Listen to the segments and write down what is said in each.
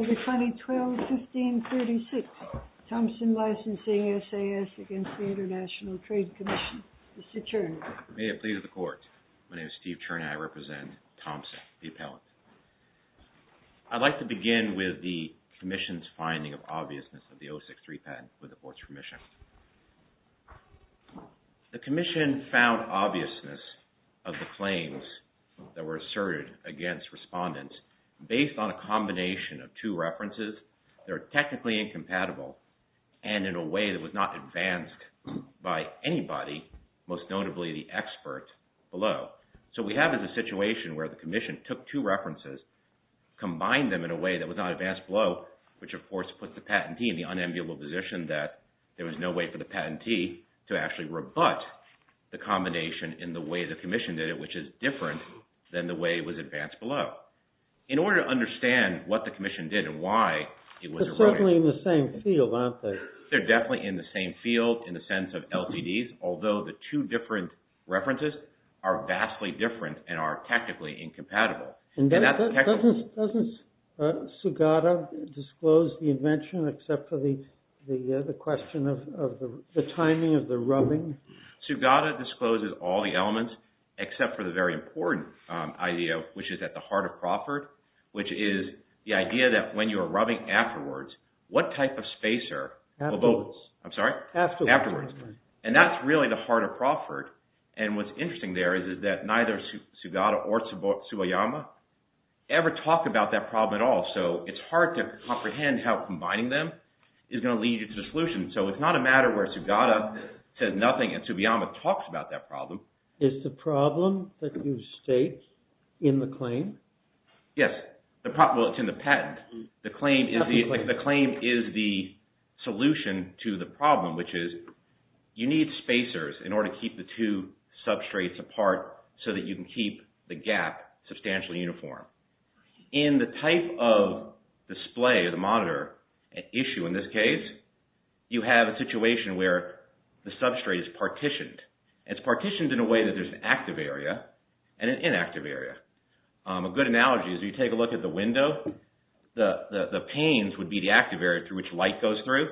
12-15-36 THOMPSON LICENSING SAS against the International Trade Commission, Mr. Czerny. May it please the Court. My name is Steve Czerny. I represent Thompson, the appellant. I'd like to begin with the Commission's finding of obviousness of the 063 patent with the Board's permission. The Commission found obviousness of the claims that were asserted against respondents based on a combination of two references that are technically incompatible and in a way that was not advanced by anybody, most notably the expert below. So we have a situation where the Commission took two references, combined them in a way that was not advanced below, which of course puts the patentee in the unenviable position that there was no way for the patentee to actually rebut the combination in the way the Commission did it, which is different than the way it was advanced below. In order to understand what the Commission did and why it was erroneous... They're certainly in the same field, aren't they? They're definitely in the same field in the sense of LCDs, although the two different references are vastly different and are technically incompatible. Doesn't Sugata disclose the invention except for the question of the timing of the rubbing? Sugata discloses all the elements except for the very important idea, which is at the heart of Crawford, which is the idea that when you're rubbing afterwards, what type of spacer... Afterwards. I'm sorry? Afterwards. Afterwards. And that's really the heart of Crawford. And what's interesting there is that neither Sugata or Tsubayama ever talk about that problem at all. So it's hard to comprehend how combining them is going to lead you to a solution. So it's not a matter where Sugata says nothing and Tsubayama talks about that problem. Is the problem that you state in the claim? Yes. Well, it's in the patent. The claim is the solution to the problem, which is you need spacers in order to keep the two substrates apart so that you can keep the gap substantially uniform. In the type of display, the monitor issue in this case, you have a situation where the substrate is partitioned. It's partitioned in a way that there's an active area and an inactive area. A good analogy is if you take a look at the window, the panes would be the active area through which light goes through.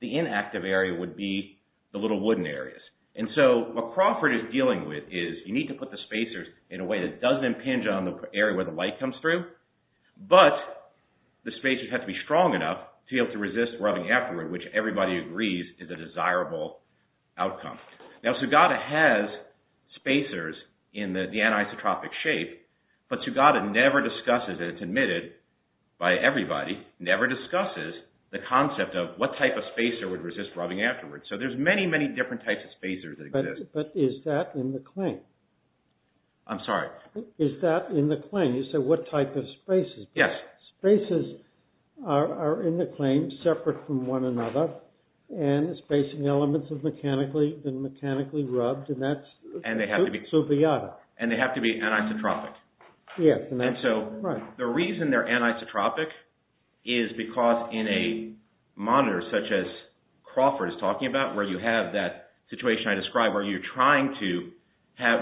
The inactive area would be the little wooden areas. And so what Crawford is dealing with is you need to put the spacers in a way that doesn't impinge on the area where the light comes through, but the spacers have to be strong enough to be able to resist rubbing afterward, which everybody agrees is a desirable outcome. Now, Sugata has spacers in the anisotropic shape, but Sugata never discusses, and it's admitted by everybody, never discusses the concept of what type of spacer would resist rubbing afterward. So there's many, many different types of spacers that exist. But is that in the claim? I'm sorry? Is that in the claim? You said what type of spacers? Yes. Spacers are in the claim separate from one another, and the spacing elements have been mechanically rubbed, and that's subiotic. And they have to be anisotropic. Yes. And so the reason they're anisotropic is because in a monitor such as Crawford is talking about, where you have that situation I described where you're trying to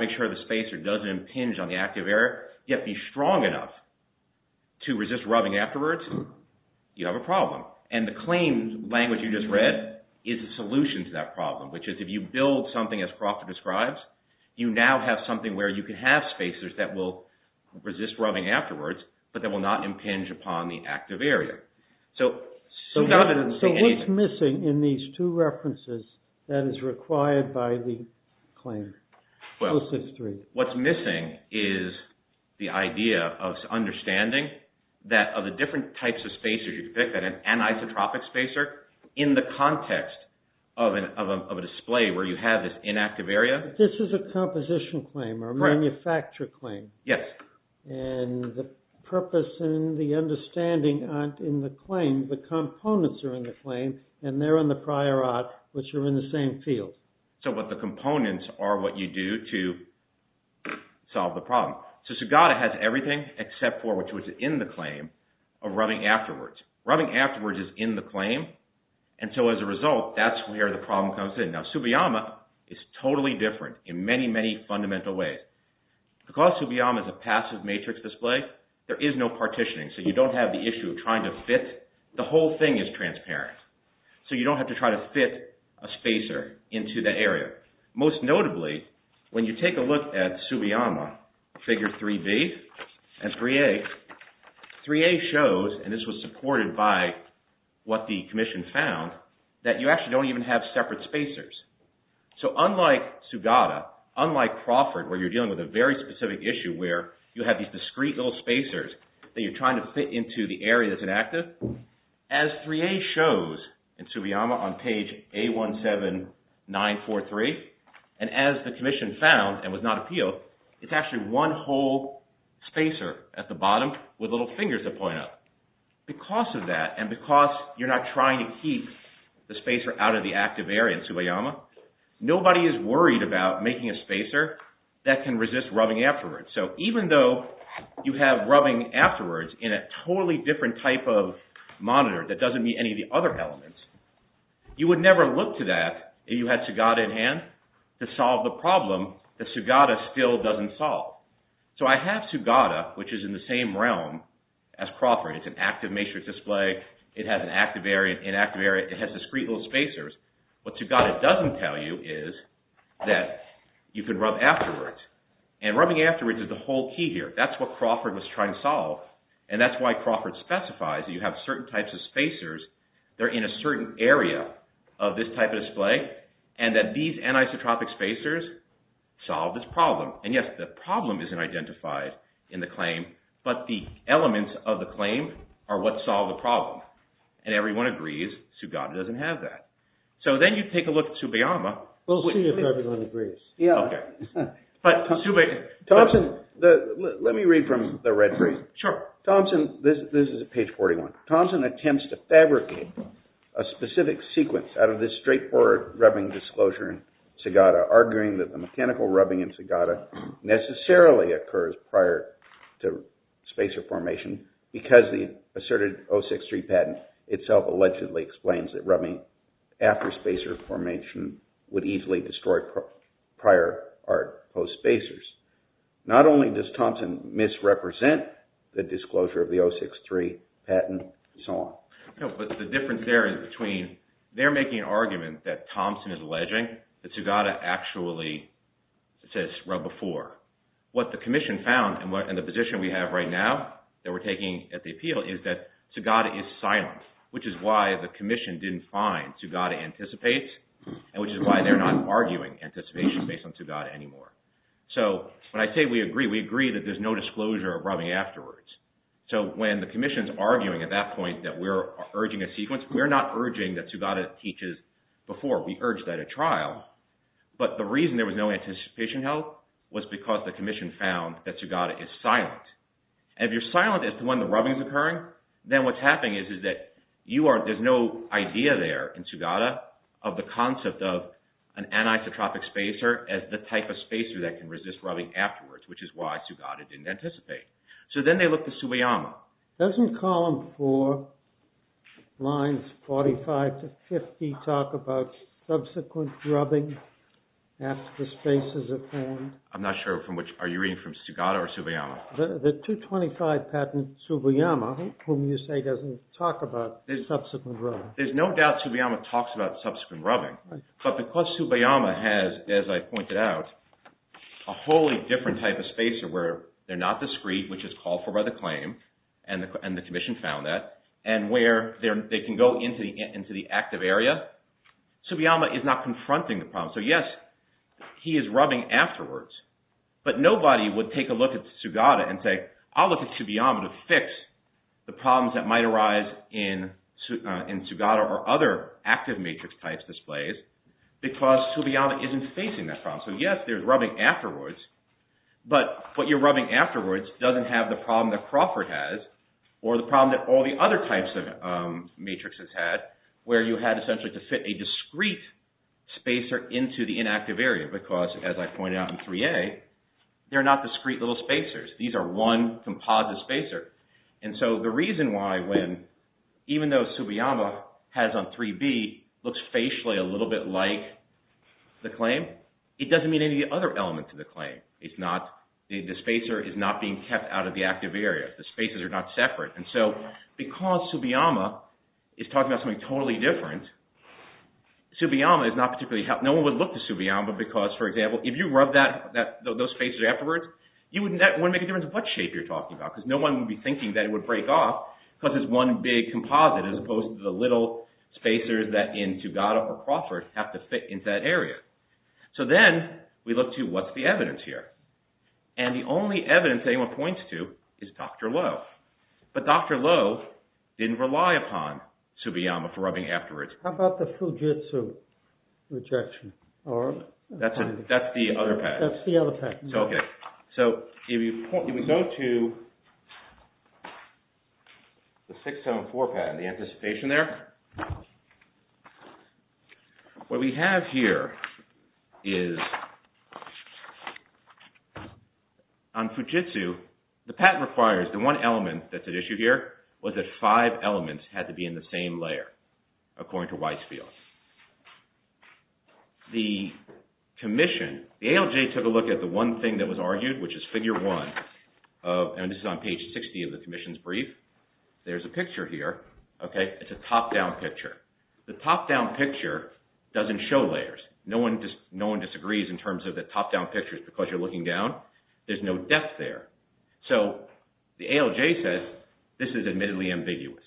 make sure the spacer doesn't impinge on the active area, you have to be strong enough to resist rubbing afterwards, you have a problem. And the claim language you just read is a solution to that problem, which is if you build something as Crawford describes, you now have something where you can have spacers that will resist rubbing afterwards, but that will not impinge upon the active area. So what's missing in these two references that is required by the claim? Well, what's missing is the idea of understanding that of the different types of spacers you pick, that an anisotropic spacer, in the context of a display where you have this inactive area. This is a composition claim, or a manufacture claim. Yes. And the purpose and the understanding aren't in the claim, the components are in the claim, and they're in the prior art, which are in the same field. So the components are what you do to solve the problem. So Sagata has everything except for what's in the claim of rubbing afterwards. Rubbing afterwards is in the claim, and so as a result, that's where the problem comes in. Now, Tsubiyama is totally different in many, many fundamental ways. Because Tsubiyama is a passive matrix display, there is no partitioning, so you don't have the issue of trying to fit. The whole thing is transparent, so you don't have to try to fit a spacer into the area. Most notably, when you take a look at Tsubiyama, figure 3B and 3A, 3A shows, and this was supported by what the Commission found, that you actually don't even have separate spacers. So unlike Sagata, unlike Crawford, where you're dealing with a very specific issue where you have these discrete little spacers that you're trying to fit into the area that's inactive, as 3A shows in Tsubiyama on page A17943, and as the Commission found and was not appealed, it's actually one whole spacer at the bottom with little fingers that point up. Because of that, and because you're not trying to keep the spacer out of the active area in Tsubiyama, nobody is worried about making a spacer that can resist rubbing afterwards. So even though you have rubbing afterwards in a totally different type of monitor that doesn't meet any of the other elements, you would never look to that if you had Sagata in hand. To solve the problem that Sagata still doesn't solve. So I have Sagata, which is in the same realm as Crawford. It's an active matrix display, it has an active area, an inactive area, it has discrete little spacers. What Sagata doesn't tell you is that you can rub afterwards. And rubbing afterwards is the whole key here. That's what Crawford was trying to solve. And that's why Crawford specifies that you have certain types of spacers that are in a certain area of this type of display, and that these anisotropic spacers solve this problem. And yes, the problem isn't identified in the claim, but the elements of the claim are what solve the problem. And everyone agrees Sagata doesn't have that. So then you take a look at Tsubiyama. We'll see if everyone agrees. Yeah. Okay. Thompson, let me read from the red brief. Sure. Thompson, this is page 41. Thompson attempts to fabricate a specific sequence out of this straightforward rubbing disclosure in Sagata, arguing that the mechanical rubbing in Sagata necessarily occurs prior to spacer formation because the asserted 063 patent itself allegedly explains that rubbing after spacer formation would easily destroy prior or post-spacers. Not only does Thompson misrepresent the disclosure of the 063 patent and so on. No, but the difference there is between they're making an argument that Thompson is alleging that Sagata actually says rub before. What the commission found and the position we have right now that we're taking at the appeal is that Sagata is silent, which is why the commission didn't find Sagata anticipates, and which is why they're not arguing anticipation based on Sagata anymore. So when I say we agree, we agree that there's no disclosure of rubbing afterwards. So when the commission's arguing at that point that we're urging a sequence, we're not urging that Sagata teaches before. We urge that at trial. But the reason there was no anticipation held was because the commission found that Sagata is silent. And if you're silent as to when the rubbing is occurring, then what's happening is that there's no idea there in Sagata of the concept of an anisotropic spacer as the type of spacer that can resist rubbing afterwards, which is why Sagata didn't anticipate. So then they look to Tsubayama. Doesn't column four, lines 45 to 50, talk about subsequent rubbing after spacers are formed? I'm not sure from which. Are you reading from Sagata or Tsubayama? The 225 patent Tsubayama, whom you say doesn't talk about subsequent rubbing. There's no doubt Tsubayama talks about subsequent rubbing. But because Tsubayama has, as I pointed out, a wholly different type of spacer where they're not discreet, which is called for by the claim, and the commission found that, and where they can go into the active area, Tsubayama is not confronting the problem. So yes, he is rubbing afterwards. But nobody would take a look at Sagata and say, I'll look at Tsubayama to fix the problems that might arise in Sagata or other active matrix types displays, because Tsubayama isn't facing that problem. So yes, there's rubbing afterwards. But what you're rubbing afterwards doesn't have the problem that Crawford has, or the problem that all the other types of matrixes had, where you had essentially to fit a discreet spacer into the inactive area. Because, as I pointed out in 3A, they're not discreet little spacers. These are one composite spacer. And so the reason why when, even though Tsubayama has on 3B, looks facially a little bit like the claim, it doesn't mean any other element to the claim. It's not, the spacer is not being kept out of the active area. The spacers are not separate. And so because Tsubayama is talking about something totally different, Tsubayama is not particularly, no one would look to Tsubayama because, for example, if you rub those spacers afterwards, you wouldn't make a difference of what shape you're talking about, because no one would be thinking that it would break off because it's one big composite, as opposed to the little spacers that in Tugada or Crawford have to fit into that area. So then we look to what's the evidence here. And the only evidence anyone points to is Dr. Lowe. But Dr. Lowe didn't rely upon Tsubayama for rubbing afterwards. How about the Fujitsu rejection? That's the other patent. That's the other patent. Okay. So if we go to the 674 patent, the anticipation there, what we have here is on Fujitsu, the patent requires the one element that's at issue here, was that five elements had to be in the same layer, according to Weisfield. The commission, the ALJ took a look at the one thing that was argued, which is figure one, and this is on page 60 of the commission's brief. There's a picture here. Okay. It's a top-down picture. The top-down picture doesn't show layers. No one disagrees in terms of the top-down pictures because you're looking down. There's no depth there. So the ALJ says this is admittedly ambiguous.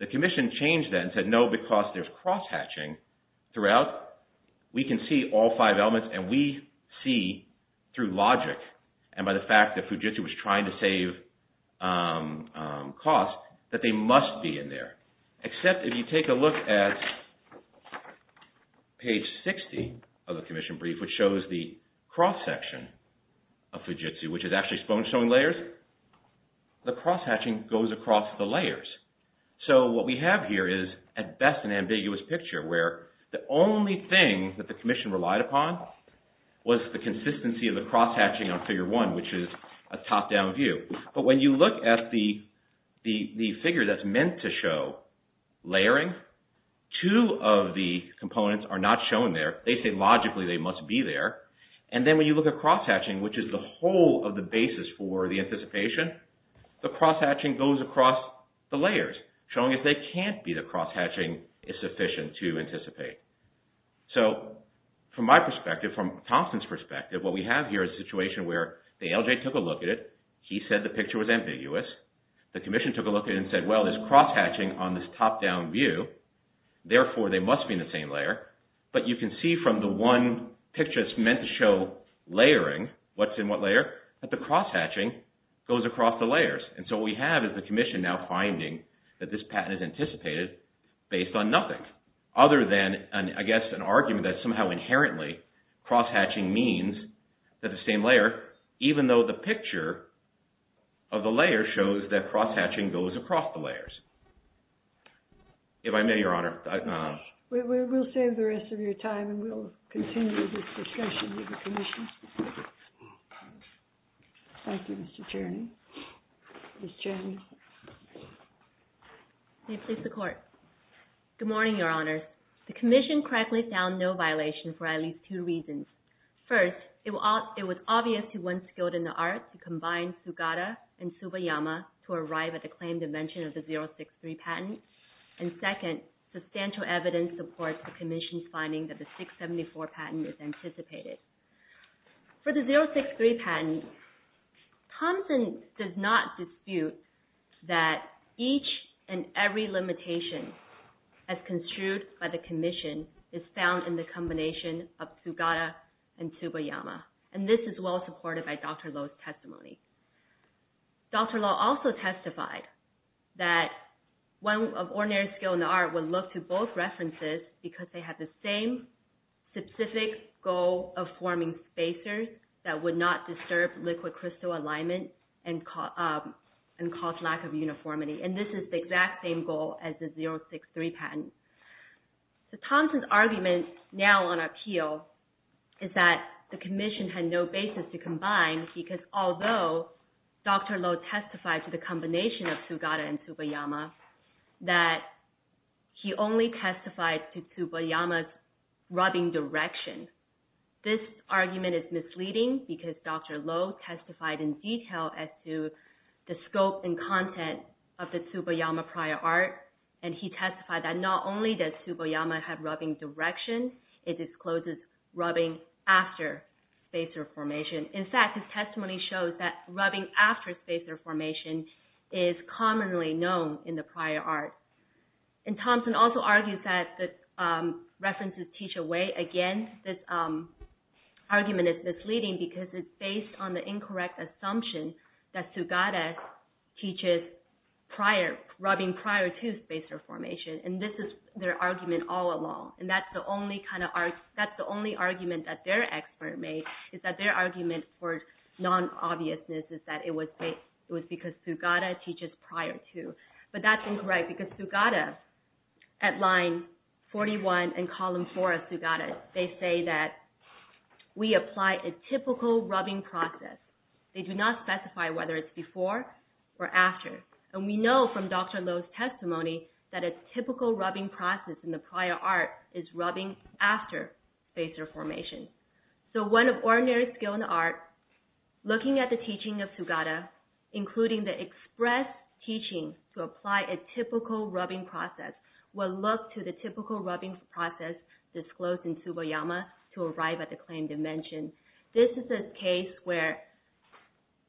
The commission changed that and said, no, because there's cross-hatching throughout. We can see all five elements, and we see through logic and by the fact that Fujitsu was trying to save costs that they must be in there, except if you take a look at page 60 of the commission brief, which shows the cross-section of Fujitsu, which is actually sponge-showing layers, the cross-hatching goes across the layers. So what we have here is, at best, an ambiguous picture where the only thing that the commission relied upon was the consistency of the cross-hatching on figure one, which is a top-down view. But when you look at the figure that's meant to show layering, two of the components are not shown there. They say logically they must be there. And then when you look at cross-hatching, which is the whole of the basis for the anticipation, the cross-hatching goes across the layers, showing if they can't be the cross-hatching is sufficient to anticipate. So from my perspective, from Thompson's perspective, what we have here is a situation where the ALJ took a look at it. He said the picture was ambiguous. The commission took a look at it and said, well, there's cross-hatching on this top-down view. Therefore, they must be in the same layer. But you can see from the one picture that's meant to show layering, what's in what layer, that the cross-hatching goes across the layers. And so what we have is the commission now finding that this patent is anticipated based on nothing other than, I guess, an argument that somehow inherently cross-hatching means that the same layer, even though the picture of the layer shows that cross-hatching goes across the layers. If I may, Your Honor. We'll save the rest of your time, and we'll continue this discussion with the commission. Thank you, Mr. Cherney. Ms. Cherney. May it please the Court. Good morning, Your Honor. The commission correctly found no violation for at least two reasons. First, it was obvious to one skilled in the arts to combine Sugata and Tsubayama to arrive at the claimed invention of the 063 patent. And second, substantial evidence supports the commission's finding that the 674 patent is anticipated. For the 063 patent, Thompson does not dispute that each and every limitation, as construed by the commission, is found in the combination of Sugata and Tsubayama. And this is well supported by Dr. Loh's testimony. Dr. Loh also testified that one of ordinary skilled in the arts would look to both references because they have the same specific goal of forming spacers that would not disturb liquid crystal alignment and cause lack of uniformity. And this is the exact same goal as the 063 patent. So Thompson's argument now on appeal is that the commission had no basis to combine because although Dr. Loh testified to the combination of Sugata and Tsubayama, that he only testified to Tsubayama's rubbing direction. This argument is misleading because Dr. Loh testified in detail as to the scope and content of the Tsubayama prior art and he testified that not only does Tsubayama have rubbing direction, it discloses rubbing after spacer formation. In fact, his testimony shows that rubbing after spacer formation is commonly known in the prior art. And Thompson also argues that the references teach a way against this argument. It's misleading because it's based on the incorrect assumption that Sugata teaches rubbing prior to spacer formation. And this is their argument all along. And that's the only argument that their expert made is that their argument for non-obviousness is that it was because Sugata teaches prior to. But that's incorrect because Sugata at line 41 and column 4 of Sugata, they say that we apply a typical rubbing process. They do not specify whether it's before or after. And we know from Dr. Loh's testimony that a typical rubbing process in the prior art is rubbing after spacer formation. So one of ordinary skill in the art, looking at the teaching of Sugata, including the express teaching to apply a typical rubbing process, will look to the typical rubbing process disclosed in Tsubayama to arrive at the claimed dimension. This is a case where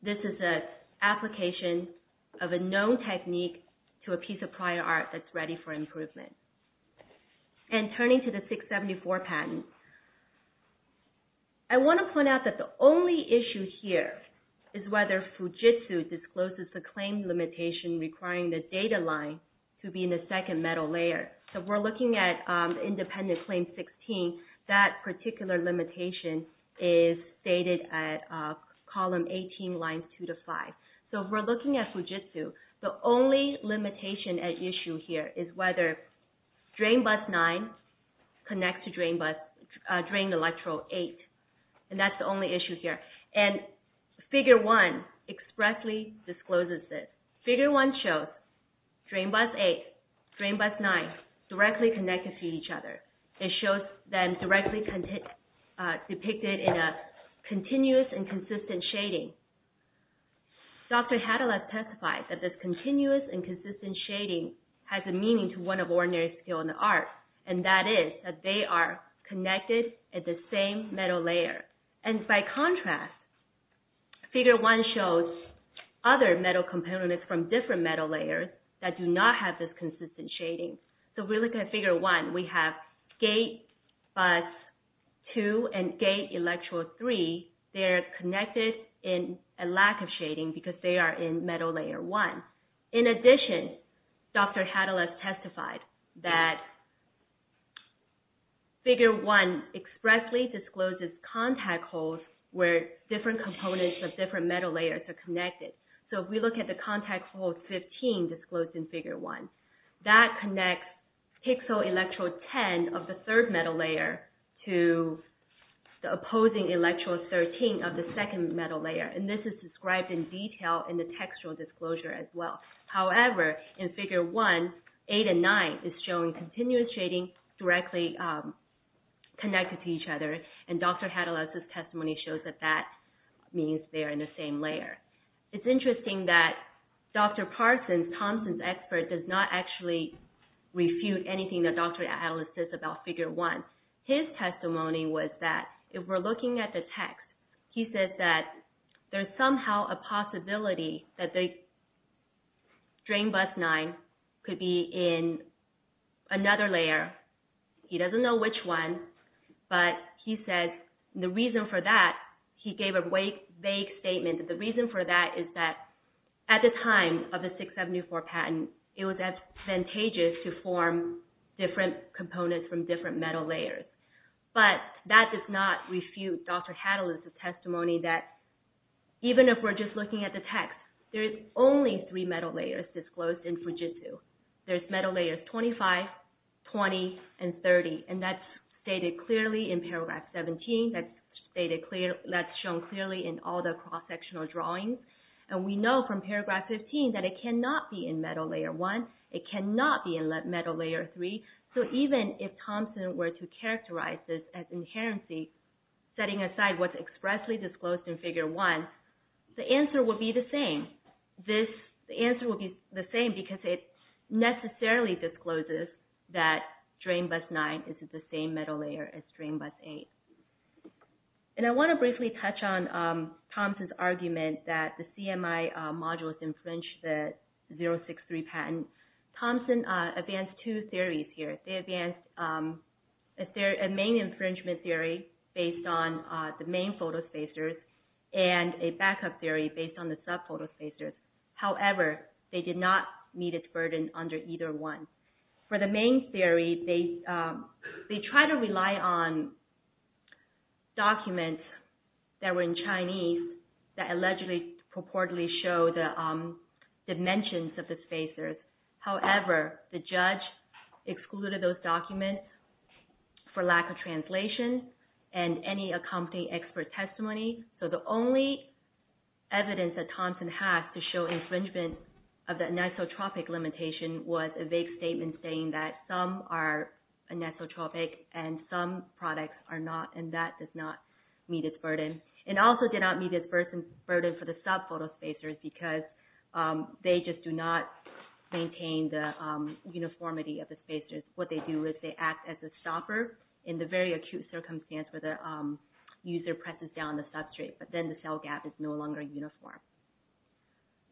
this is an application of a known technique to a piece of prior art that's ready for improvement. And turning to the 674 patent, I want to point out that the only issue here is whether Fujitsu discloses the claim limitation requiring the data line to be in the second metal layer. So if we're looking at independent claim 16, that particular limitation is stated at column 18, line 2 to 5. So if we're looking at Fujitsu, the only limitation at issue here is whether drain bus 9 connects to drain electrode 8. And that's the only issue here. And figure 1 expressly discloses this. Figure 1 shows drain bus 8, drain bus 9 directly connected to each other. It shows them directly depicted in a continuous and consistent shading. Dr. Hadalab testified that this continuous and consistent shading has a meaning to one of ordinary skill in the art, and that is that they are connected at the same metal layer. And by contrast, figure 1 shows other metal components from different metal layers that do not have this consistent shading. So if we look at figure 1, we have gate bus 2 and gate electrode 3. They are connected in a lack of shading because they are in metal layer 1. In addition, Dr. Hadalab testified that figure 1 expressly discloses contact holes where different components of different metal layers are connected. So if we look at the contact hole 15 disclosed in figure 1, that connects pixel electrode 10 of the third metal layer to the opposing electrode 13 of the second metal layer. And this is described in detail in the textual disclosure as well. However, in figure 1, 8 and 9 is showing continuous shading directly connected to each other, and Dr. Hadalab's testimony shows that that means they are in the same layer. It's interesting that Dr. Parsons, Thompson's expert, does not actually refute anything that Dr. Hadalab says about figure 1. His testimony was that, if we're looking at the text, he says that there's somehow a possibility that the strain bus 9 could be in another layer. He doesn't know which one, but he says the reason for that, he gave a vague statement, the reason for that is that, at the time of the 674 patent, it was advantageous to form different components from different metal layers. But that does not refute Dr. Hadalab's testimony that, even if we're just looking at the text, there's only three metal layers disclosed in Fujitsu. There's metal layers 25, 20, and 30, and that's stated clearly in paragraph 17, that's shown clearly in all the cross-sectional drawings, and we know from paragraph 15 that it cannot be in metal layer 1, it cannot be in metal layer 3, so even if Thompson were to characterize this as inherency, setting aside what's expressly disclosed in figure 1, the answer would be the same. The answer would be the same because it necessarily discloses that strain bus 9 is in the same metal layer as strain bus 8. And I want to briefly touch on Thompson's argument that the CMI modules infringe the 063 patent. Thompson advanced two theories here. They advanced a main infringement theory based on the main photospacers and a backup theory based on the sub-photospacers. However, they did not meet its burden under either one. For the main theory, they tried to rely on documents that were in Chinese that allegedly purportedly show the dimensions of the spacers. However, the judge excluded those documents for lack of translation and any accompanying expert testimony. So the only evidence that Thompson has to show infringement of the anisotropic limitation was a vague statement saying that some are anisotropic and some products are not, and that does not meet its burden. And also did not meet its burden for the sub-photospacers because they just do not maintain the uniformity of the spacers. What they do is they act as a stopper in the very acute circumstance where the user presses down the substrate, but then the cell gap is no longer uniform.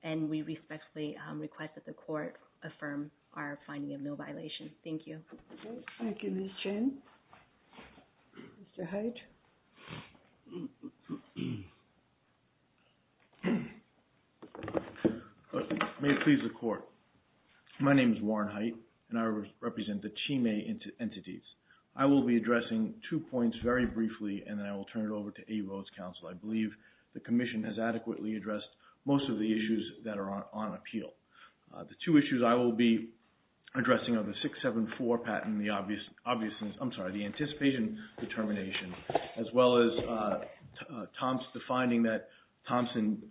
And we respectfully request that the court affirm our finding of no violation. Thank you. Thank you, Ms. Chen. Mr. Haidt. May it please the court. My name is Warren Haidt, and I represent the Chi-Mei entities. I will be addressing two points very briefly, and then I will turn it over to A. Rhodes Counsel. I believe the commission has adequately addressed most of the issues that are on appeal. The two issues I will be addressing are the 674 patent and the anticipation determination, as well as Thompson's finding that Thompson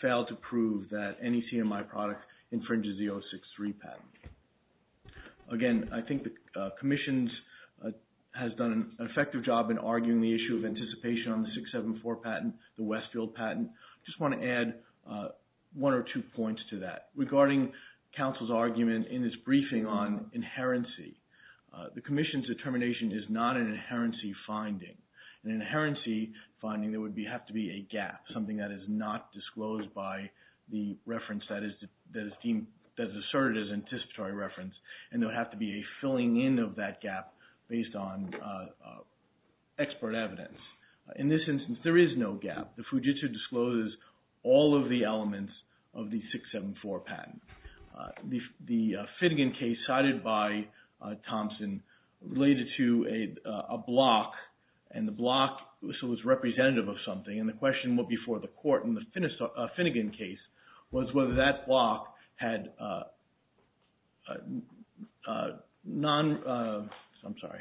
failed to prove that any CMI product infringes the 063 patent. Again, I think the commission has done an effective job in arguing the issue of anticipation on the 674 patent, the Westfield patent. I just want to add one or two points to that. Regarding counsel's argument in his briefing on inherency, the commission's determination is not an inherency finding. An inherency finding would have to be a gap, something that is not disclosed by the reference that is asserted as anticipatory reference, and there would have to be a filling in of that gap based on expert evidence. In this instance, there is no gap. The Fujitsu discloses all of the elements of the 674 patent. The Finnegan case cited by Thompson related to a block, and the block was representative of something, and the question before the court in the Finnegan case was whether that block had non – I'm sorry.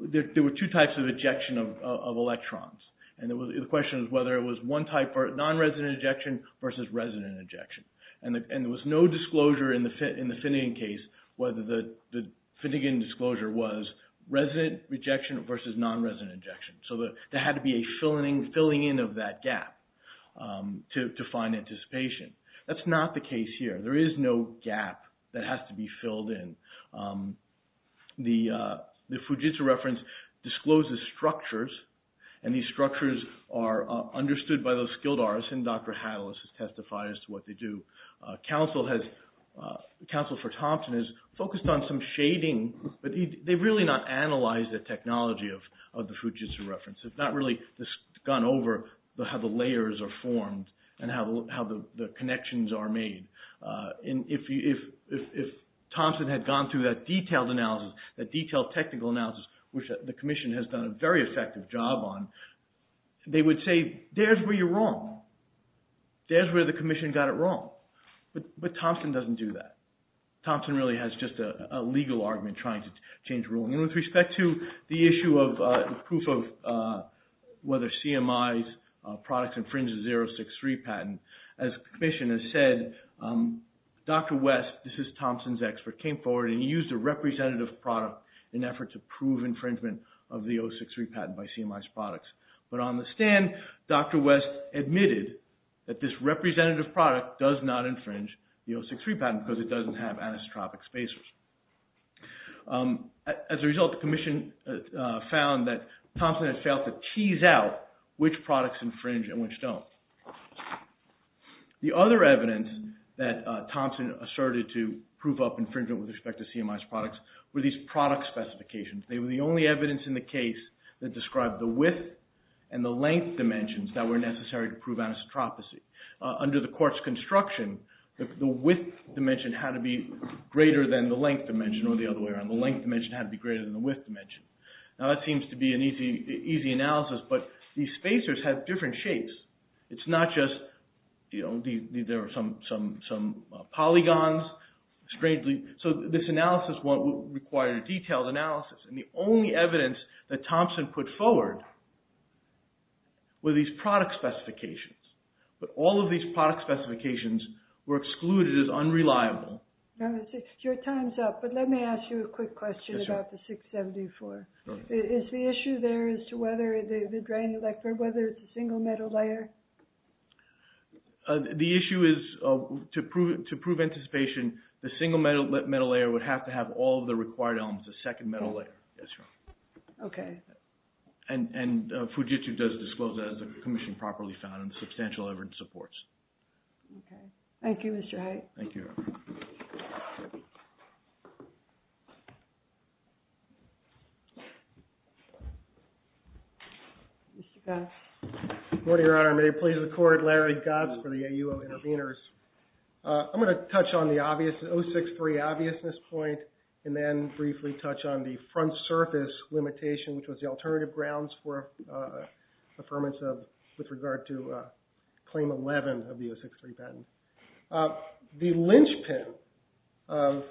There were two types of ejection of electrons, and the question was whether it was one type of non-resident ejection versus resident ejection. And there was no disclosure in the Finnegan case whether the Finnegan disclosure was resident ejection versus non-resident ejection. So there had to be a filling in of that gap to find anticipation. That's not the case here. There is no gap that has to be filled in. The Fujitsu reference discloses structures, and these structures are understood by those skilled artists, and Dr. Hattles has testified as to what they do. Counsel for Thompson has focused on some shading, but they've really not analyzed the technology of the Fujitsu reference. It's not really gone over how the layers are formed and how the connections are made. If Thompson had gone through that detailed analysis, that detailed technical analysis, which the commission has done a very effective job on, they would say, there's where you're wrong. There's where the commission got it wrong. But Thompson doesn't do that. Thompson really has just a legal argument trying to change the rule. With respect to the issue of proof of whether CMI's products infringe the 063 patent, as the commission has said, Dr. West, this is Thompson's expert, came forward and used a representative product in an effort to prove infringement of the 063 patent by CMI's products. But on the stand, Dr. West admitted that this representative product does not infringe the 063 patent because it doesn't have anisotropic spacers. As a result, the commission found that Thompson had failed to tease out which products infringe and which don't. The other evidence that Thompson asserted to prove up infringement with respect to CMI's products were these product specifications. They were the only evidence in the case that described the width and the length dimensions that were necessary to prove anisotropocy. Under the court's construction, the width dimension had to be greater than the length dimension or the other way around. The length dimension had to be greater than the width dimension. Now that seems to be an easy analysis, but these spacers have different shapes. It's not just, you know, there are some polygons. So this analysis required a detailed analysis, and the only evidence that Thompson put forward were these product specifications. But all of these product specifications were excluded as unreliable. Your time's up, but let me ask you a quick question about the 674. Is the issue there as to whether the drain electrode, whether it's a single metal layer? The issue is to prove anticipation, the single metal layer would have to have all of the required elements, the second metal layer. Okay. And Fujitsu does disclose that as a commission properly found and substantial evidence supports. Okay. Thank you, Mr. Hite. Thank you. Mr. Goetz. Good morning, Your Honor. May it please the court, Larry Goetz for the AUO Intervenors. I'm going to touch on the O6-3 obviousness point and then briefly touch on the front surface limitation, which was the alternative grounds for affirmation with regard to Claim 11 of the O6-3 patent. The linchpin of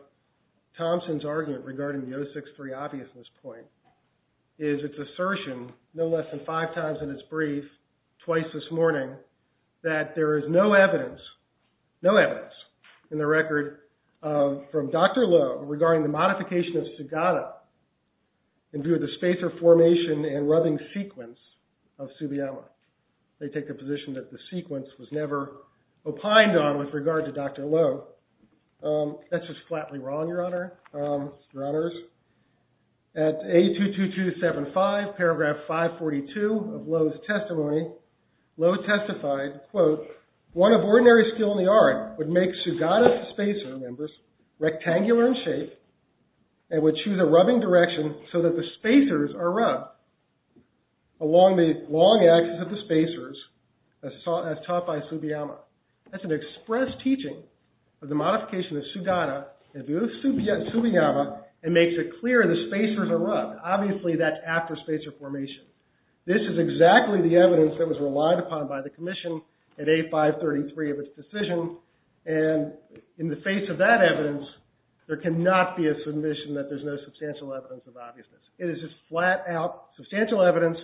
Thompson's argument regarding the O6-3 obviousness point is its assertion, no less than five times in its brief, twice this morning, that there is no evidence, no evidence in the record from Dr. Lowe regarding the modification of Sagata in view of the spacer formation and rubbing sequence of subiella. They take the position that the sequence was never opined on with regard to Dr. Lowe. That's just flatly wrong, Your Honor, Your Honors. At A22275, paragraph 542 of Lowe's testimony, Lowe testified, quote, one of ordinary skill in the art would make Sagata's spacer members rectangular in shape and would choose a rubbing direction so that the spacers are rubbed along the long axis of the spacers as taught by Tsubiyama. That's an express teaching of the modification of Sagata in view of Tsubiyama and makes it clear the spacers are rubbed. Obviously, that's after spacer formation. This is exactly the evidence that was relied upon by the commission at A533 of its decision. And in the face of that evidence, there cannot be a submission that there's no substantial evidence of obviousness. It is just flat out substantial evidence,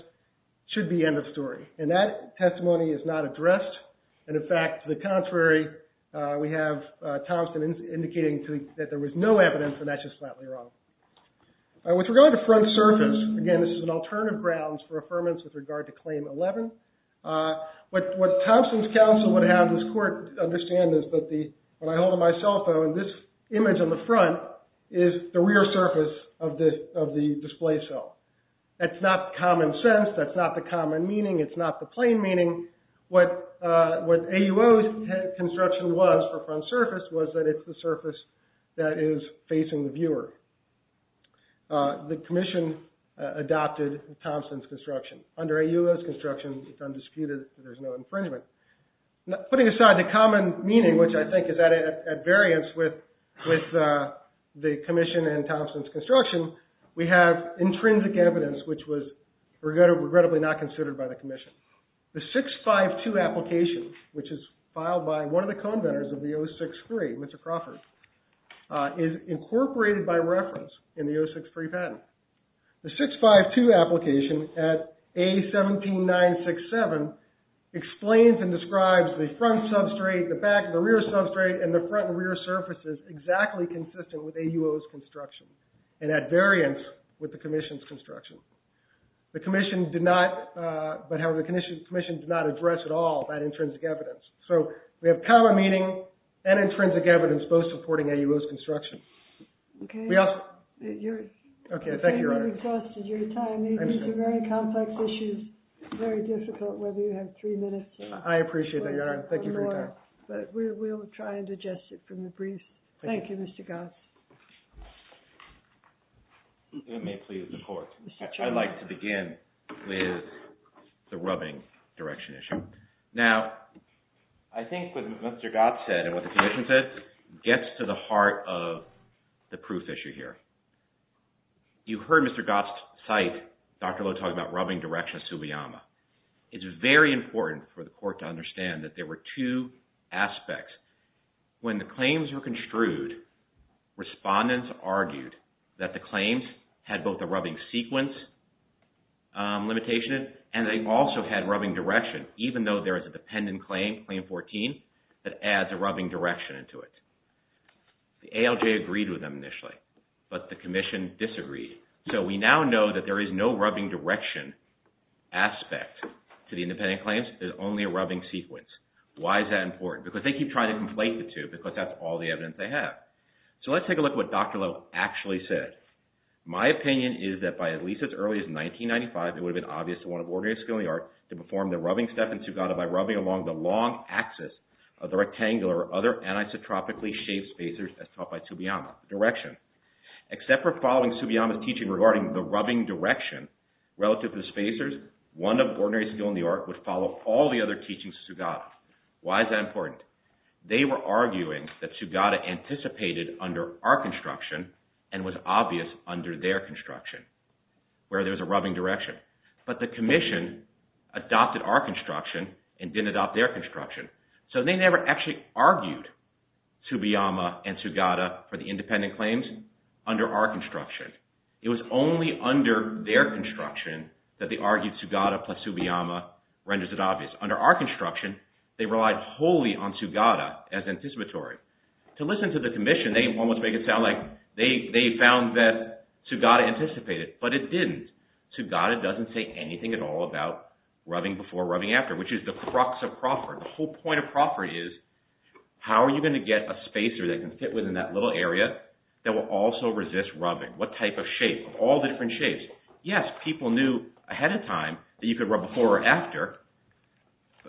should be end of story. And that testimony is not addressed. And, in fact, to the contrary, we have Thompson indicating that there was no evidence, and that's just flatly wrong. With regard to front surface, again, this is an alternative grounds for affirmance with regard to Claim 11. What Thompson's counsel would have this court understand is that when I hold up my cell phone, this image on the front is the rear surface of the display cell. That's not common sense. That's not the common meaning. It's not the plain meaning. What AUO's construction was for front surface was that it's the surface that is facing the viewer. The commission adopted Thompson's construction. Under AUO's construction, it's undisputed that there's no infringement. Putting aside the common meaning, which I think is at variance with the commission and Thompson's construction, we have intrinsic evidence, which was regrettably not considered by the commission. The 652 application, which is filed by one of the co-inventors of the 063, Mr. Crawford, is incorporated by reference in the 063 patent. The 652 application at A17967 explains and describes the front substrate, the back and the rear substrate, and the front and rear surfaces exactly consistent with AUO's construction and at variance with the commission's construction. However, the commission did not address at all that intrinsic evidence. So we have common meaning and intrinsic evidence both supporting AUO's construction. Okay. Thank you, Your Honor. It really costed your time. These are very complex issues, very difficult, whether you have three minutes or more. I appreciate that, Your Honor. Thank you for your time. But we'll try and digest it from the brief. Thank you, Mr. Goss. If it may please the court, I'd like to begin with the rubbing direction issue. Now, I think what Mr. Goss said and what the commission said gets to the heart of the proof issue here. You heard Mr. Goss cite Dr. Lowe talking about rubbing direction of Tsubiyama. It's very important for the court to understand that there were two aspects. When the claims were construed, respondents argued that the claims had both a rubbing sequence limitation and they also had rubbing direction, even though there is a dependent claim, Claim 14, that adds a rubbing direction to it. The ALJ agreed with them initially, but the commission disagreed. So we now know that there is no rubbing direction aspect to the independent claims. There's only a rubbing sequence. Why is that important? Because they keep trying to conflate the two because that's all the evidence they have. So let's take a look at what Dr. Lowe actually said. My opinion is that by at least as early as 1995, it would have been obvious to one of ordinary skill in the art to perform the rubbing step in Tsugata by rubbing along the long axis of the rectangular or other anisotropically shaped spacers as taught by Tsubiyama, direction. Except for following Tsubiyama's teaching regarding the rubbing direction relative to the spacers, one of ordinary skill in the art would follow all the other teachings of Tsugata. Why is that important? They were arguing that Tsugata anticipated under our construction and was obvious under their construction, where there's a rubbing direction. But the commission adopted our construction and didn't adopt their construction. So they never actually argued Tsubiyama and Tsugata for the independent claims under our construction. It was only under their construction that they argued Tsugata plus Tsubiyama renders it obvious. Under our construction, they relied wholly on Tsugata as anticipatory. To listen to the commission, they almost make it sound like they found that Tsugata anticipated. But it didn't. Tsugata doesn't say anything at all about rubbing before rubbing after, which is the crux of Crawford. The whole point of Crawford is how are you going to get a spacer that can fit within that little area that will also resist rubbing? What type of shape? All the different shapes. Yes, people knew ahead of time that you could rub before or after.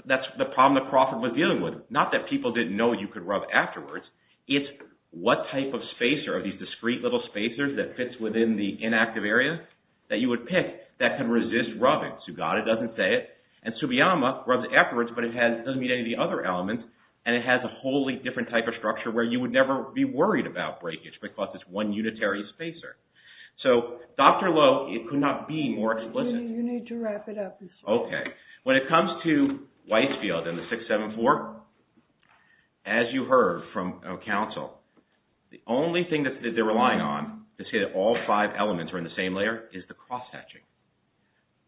That's the problem that Crawford was dealing with. Not that people didn't know you could rub afterwards. It's what type of spacer, these discreet little spacers that fits within the inactive area that you would pick that can resist rubbing. Tsugata doesn't say it. And Tsubiyama rubs afterwards, but it doesn't meet any of the other elements. And it has a wholly different type of structure where you would never be worried about breakage because it's one unitary spacer. So Dr. Lowe, it could not be more explicit. You need to wrap it up. Okay. When it comes to Whitefield and the 674, as you heard from counsel, the only thing that they're relying on to say that all five elements are in the same layer is the cross-hatching.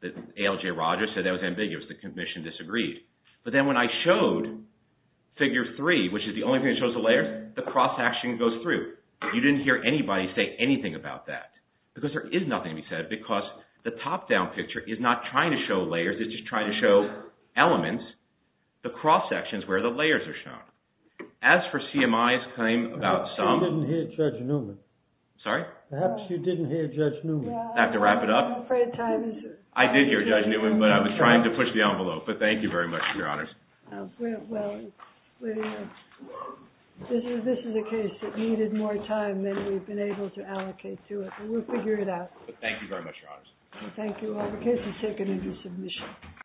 ALJ Rogers said that was ambiguous. The commission disagreed. But then when I showed Figure 3, which is the only thing that shows the layers, the cross-hatching goes through. You didn't hear anybody say anything about that because there is nothing to be said because the top-down picture is not trying to show layers. It's just trying to show elements, the cross-sections where the layers are shown. As for CMI's claim about some— Perhaps you didn't hear Judge Newman. Sorry? Perhaps you didn't hear Judge Newman. I have to wrap it up? I'm afraid time is up. I did hear Judge Newman, but I was trying to push the envelope. But thank you very much, Your Honors. Well, this is a case that needed more time than we've been able to allocate to it. We'll figure it out. But thank you very much, Your Honors. Thank you. The case is taken into submission.